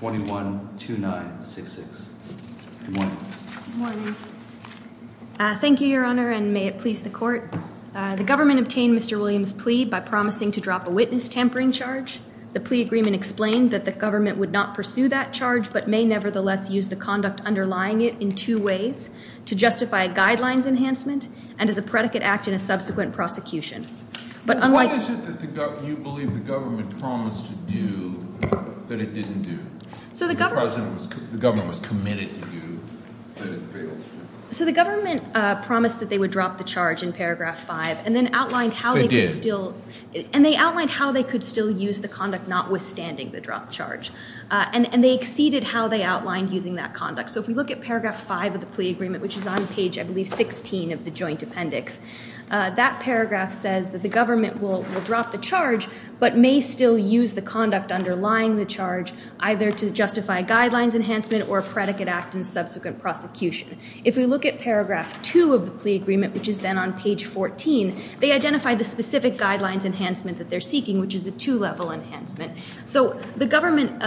21-2966. Good morning. Good morning. Thank you, Your Honor, and may it please the Court. The government obtained Mr. Williams' plea by promising to drop a witness tampering charge. The plea agreement explained that the government would not pursue that charge, but may nevertheless use the conduct underlying it in two ways, to justify a guidelines enhancement and as a predicate act in a subsequent prosecution. But unlike... Why is it that you believe the government would do that it didn't do? The government was committed to do that it failed. So the government promised that they would drop the charge in paragraph 5 and then outlined how they could still... They did. And they outlined how they could still use the conduct notwithstanding the dropped charge. And they exceeded how they outlined using that conduct. So if we look at paragraph 5 of the plea agreement, which is on page, I believe, 16 of the joint appendix, that paragraph says that the government will drop the charge, but may still use the conduct underlying the charge either to justify a guidelines enhancement or a predicate act in subsequent prosecution. If we look at paragraph 2 of the plea agreement, which is then on page 14, they identify the specific guidelines enhancement that they're seeking, which is a two-level enhancement. So the government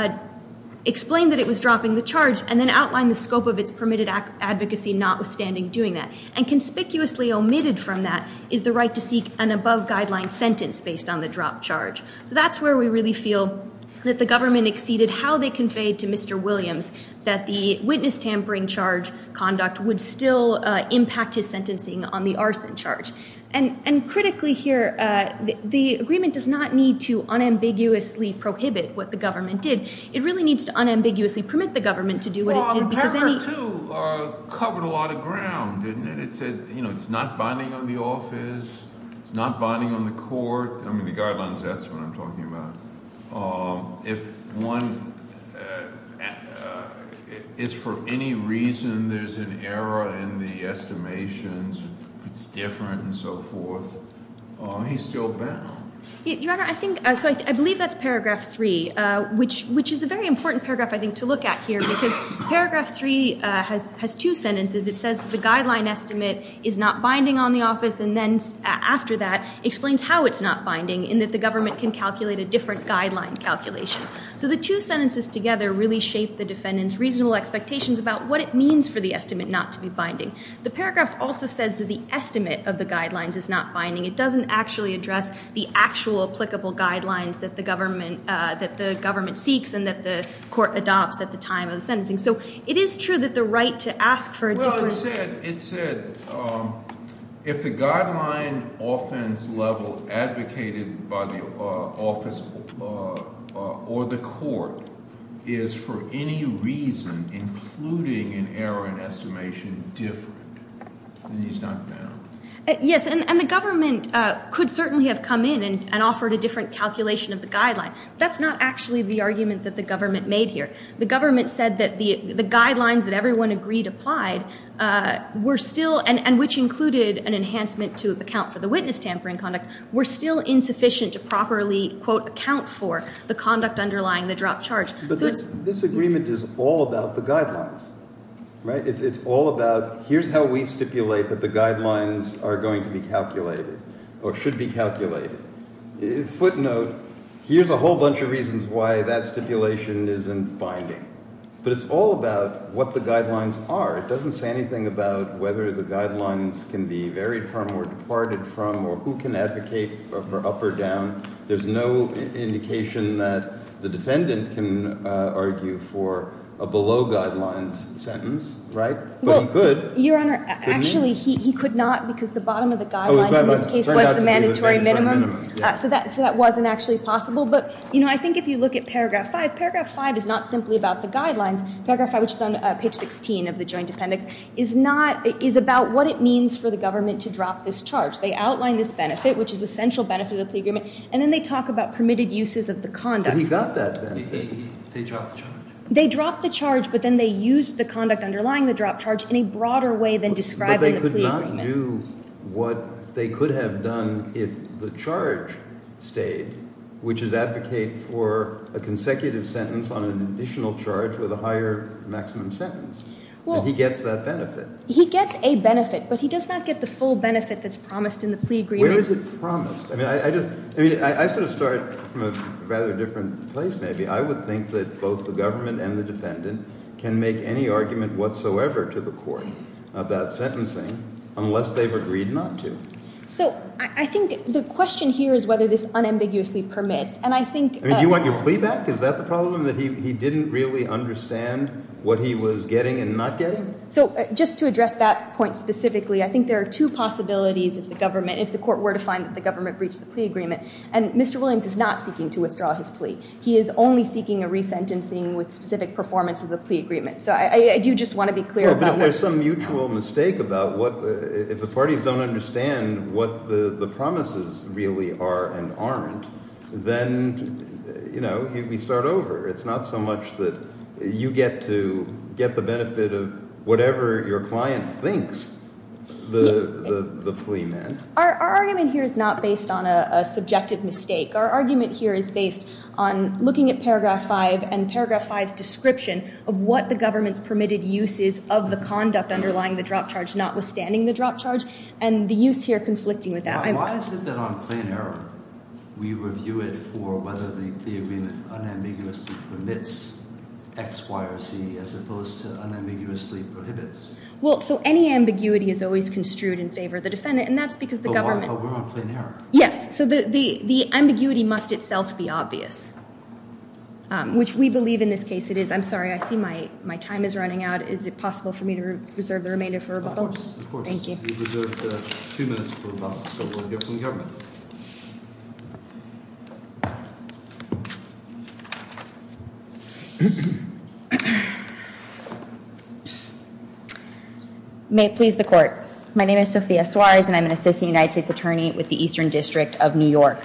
explained that it was dropping the charge and then outlined the scope of its permitted advocacy notwithstanding doing that. And conspicuously omitted from that is the right to seek an above-guideline sentence based on the dropped charge. So that's where we really feel that the government exceeded how they conveyed to Mr. Williams that the witness tampering charge conduct would still impact his sentencing on the arson charge. And critically here, the agreement does not need to unambiguously prohibit what the government did. It really needs to unambiguously permit the government to do what it did because any... Well, paragraph 2 covered a lot of ground, didn't it? It said, you know, it's not binding on the office. It's not binding on the court. I mean, the guidelines, that's what I'm talking about. If one is, for any reason, there's an error in the estimations, it's different and so forth, he's still bound. Your Honor, I think, so I believe that's paragraph 3, which is a very important paragraph, I think, to look at here because paragraph 3 has two sentences. It says the guideline estimate is not binding on the office and then, after that, explains how it's not binding and that the government can calculate a different guideline calculation. So the two sentences together really shape the defendant's reasonable expectations about what it means for the estimate not to be binding. The paragraph also says that the estimate of the guidelines is not binding. It doesn't actually address the actual applicable guidelines that the government seeks and that the court adopts at the time of the sentencing. So it is true that the right to ask for a different... It said, it said, if the guideline offense level advocated by the office or the court is, for any reason, including an error in estimation, different, then he's not bound. Yes, and the government could certainly have come in and offered a different calculation of the guideline. That's not actually the argument that the government made here. The guidelines were still, and which included an enhancement to account for the witness tampering conduct, were still insufficient to properly, quote, account for the conduct underlying the dropped charge. This agreement is all about the guidelines, right? It's all about, here's how we stipulate that the guidelines are going to be calculated or should be calculated. Footnote, here's a whole bunch of reasons why that stipulation isn't binding. But it's all about what the guidelines can be varied from or departed from or who can advocate for up or down. There's no indication that the defendant can argue for a below guidelines sentence, right? But he could. Your Honor, actually, he could not because the bottom of the guidelines in this case was the mandatory minimum. So that wasn't actually possible. But I think if you look at paragraph 5, paragraph 5 is not simply about the guidelines. Paragraph 5, which is on page 16 of the joint appendix, is not, is about what it means for the government to drop this charge. They outline this benefit, which is a central benefit of the plea agreement, and then they talk about permitted uses of the conduct. But he got that benefit. They dropped the charge. They dropped the charge, but then they used the conduct underlying the dropped charge in a broader way than described in the plea agreement. But they could not do what they could have done if the charge stayed, which is advocate for a consecutive sentence on an additional charge with a higher maximum sentence. And he gets that benefit. Well, he gets a benefit, but he does not get the full benefit that's promised in the plea agreement. Where is it promised? I mean, I just, I mean, I sort of start from a rather different place maybe. I would think that both the government and the defendant can make any argument whatsoever to the court about sentencing unless they've agreed not to. So, I think the question here is whether this unambiguously permits. And I think- I mean, do you want your plea back? Is that the problem? That he didn't really understand what he was getting and not getting? So just to address that point specifically, I think there are two possibilities if the government, if the court were to find that the government breached the plea agreement. And Mr. Williams is not seeking to withdraw his plea. He is only seeking a resentencing with specific performance of the plea agreement. So I do just want to be clear about what- If you understand what the promises really are and aren't, then, you know, we start over. It's not so much that you get to get the benefit of whatever your client thinks the plea meant. Our argument here is not based on a subjective mistake. Our argument here is based on looking at paragraph 5 and paragraph 5's description of what the government's permitted use is of the conduct underlying the drop charge, notwithstanding the drop charge, and the use here conflicting with that. Why is it that on plain error, we review it for whether the agreement unambiguously permits X, Y, or Z, as opposed to unambiguously prohibits? Well, so any ambiguity is always construed in favor of the defendant, and that's because the government- But we're on plain error. Yes. So the ambiguity must itself be obvious, which we believe in this case it is. I'm sorry, I see my time is running out. Is it possible for me to reserve the remainder for rebuttal? Of course. Thank you. You reserved two minutes for rebuttal, so we'll give it to the government. May it please the court. My name is Sophia Suarez, and I'm an assistant United States attorney with the Eastern District of New York.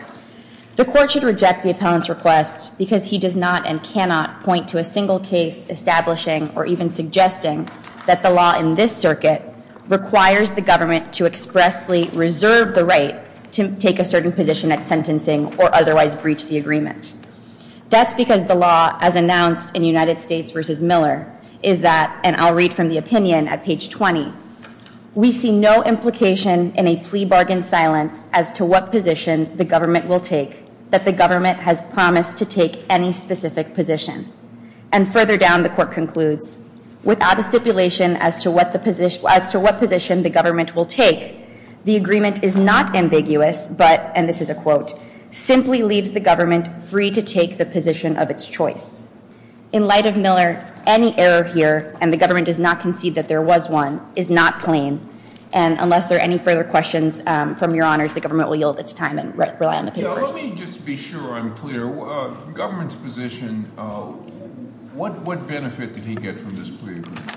The court should reject the appellant's request because he does not and cannot point to a single case establishing or even suggesting that the law in this circuit requires the government to expressly reserve the right to take a certain position at sentencing or otherwise breach the agreement. That's because the law, as announced in United States v. Miller, is that, and I'll read from the opinion at page 20, we see no implication in a plea bargain silence as to what position the government will take that the government has promised to take any specific position. And further down, the court concludes, without a stipulation as to what position the government will take, the agreement is not ambiguous, but, and this is a quote, simply leaves the government free to take the position of its choice. In light of Miller, any error here, and the government does not concede that there was one, is not plain. And unless there are any further questions from your honors, the government will yield its time and rely on the papers. Let me just be sure I'm clear. The government's position, what benefit did he get from this plea agreement?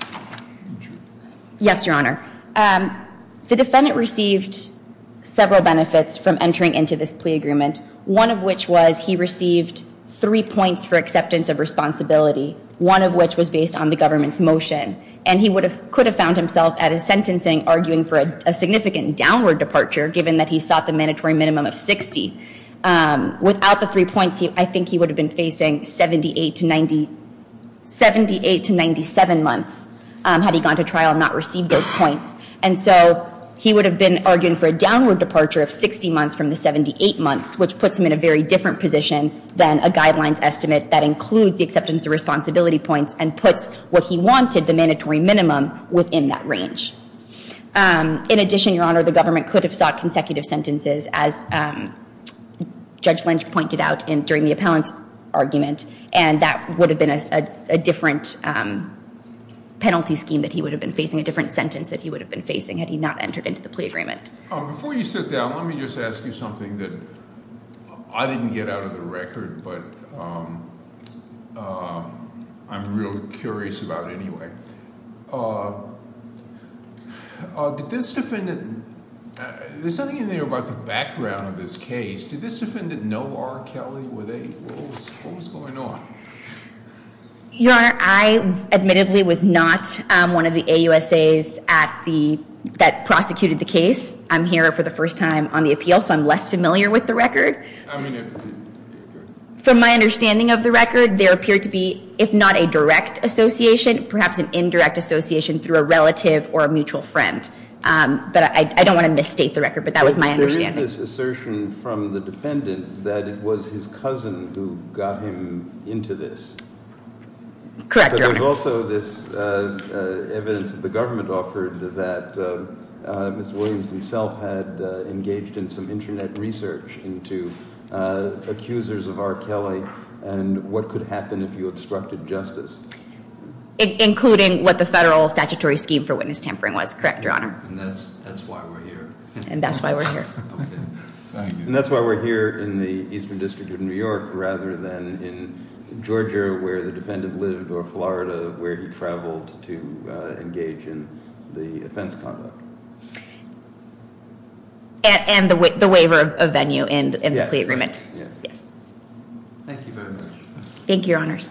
Yes, your honor. The defendant received several benefits from entering into this plea agreement, one of which was he received three points for acceptance of responsibility, one of which was based on the government's motion. And he could have found himself at a sentencing arguing for a significant downward departure, given that he sought the mandatory minimum of 60. Without the three points, I think he would have been facing 78 to 90, 78 to 97 months had he gone to trial and not received those points. And so he would have been arguing for a downward departure of 60 months from the 78 months, which puts him in a very different position than a guidelines estimate that includes the acceptance of responsibility points and puts what he wanted, the mandatory minimum, within that range. In addition, your honor, the government could have sought consecutive sentences, as Judge Lynch pointed out during the appellant's argument, and that would have been a different penalty scheme that he would have been facing, a different sentence that he would have been facing had he not entered into the plea agreement. Before you sit down, let me just ask you something that I didn't get out of the record, but I am real curious about anyway. Did this defendant, there's nothing in there about the background of this case. Did this defendant know R. Kelly? What was going on? Your honor, I admittedly was not one of the AUSAs that prosecuted the case. I'm here for the first time on the appeal, so I'm less familiar with the record. From my understanding of the record, there appeared to be, if not a direct association, perhaps an indirect association through a relative or a mutual friend. But I don't want to misstate the record, but that was my understanding. But there is this assertion from the defendant that it was his cousin who got him into this. Correct, your honor. There was also this evidence that the government offered that Mr. Williams himself had engaged in some internet research into accusers of R. Kelly and what could happen if you obstructed justice. Including what the federal statutory scheme for witness tampering was, correct, your honor? That's why we're here. And that's why we're here. That's why we're here in the Eastern District of New York rather than in Georgia where the defendant lived or Florida where he traveled to engage in the offense conduct. And the waiver of venue in the plea agreement. Yes. Thank you very much. Thank you, your honors.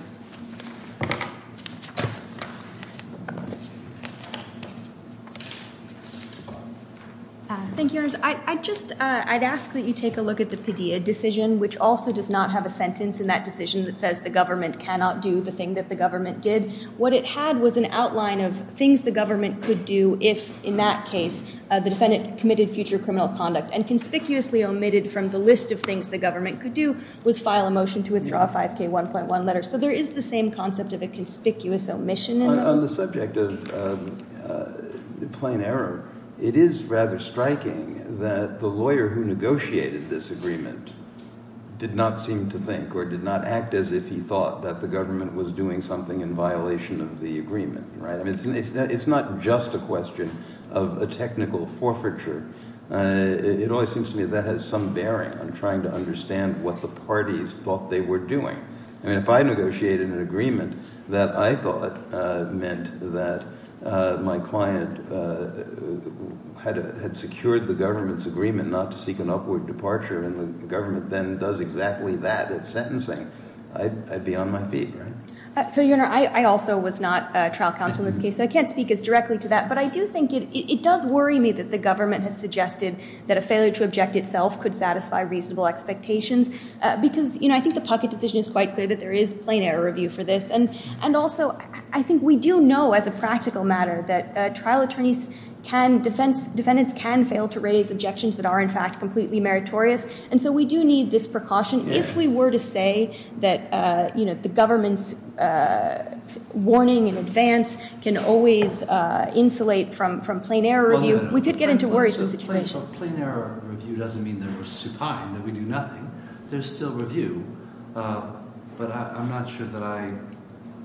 Thank you, your honors. I just, I'd ask that you take a look at the Padilla decision, which also does not have a sentence in that decision that says the government cannot do the thing that the government did. What it had was an outline of things the government could do if in that case the defendant committed future criminal conduct and conspicuously omitted from the list of things the government could do was file a motion to withdraw a 5K1.1 letter. So there is the same concept of a conspicuous omission in that. On the subject of plain error, it is rather striking that the lawyer who negotiated this agreement did not seem to think or did not act as if he thought that the government was doing something. And that is not just a question of a technical forfeiture. It always seems to me that has some bearing on trying to understand what the parties thought they were doing. I mean if I negotiated an agreement that I thought meant that my client had secured the government's agreement not to seek an upward departure and the government then does exactly that at sentencing, I'd be on my feet, right? So Your Honor, I also was not trial counsel in this case so I can't speak as directly to that. But I do think it does worry me that the government has suggested that a failure to object itself could satisfy reasonable expectations because I think the Puckett decision is quite clear that there is plain error review for this. And also I think we do know as a practical matter that trial attorneys can, defendants can fail to raise objections that are in fact completely meritorious. And so we do need this precaution. If we were to say that, you know, the government's warning in advance can always insulate from plain error review, we could get into worrisome situations. Plain error review doesn't mean that we're supine, that we do nothing. There's still review. But I'm not sure that I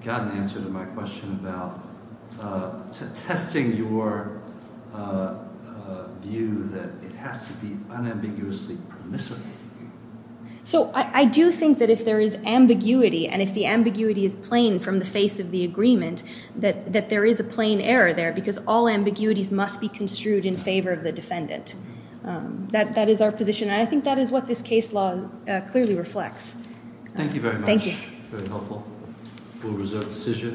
got an answer to my question about testing your view that it has to be unambiguously permissible. So I do think that if there is ambiguity and if the ambiguity is plain from the face of the agreement, that there is a plain error there because all ambiguities must be construed in favor of the defendant. That is our position and I think that is what this case law clearly Thank you very much. Thank you. Very helpful. We'll reserve the decision.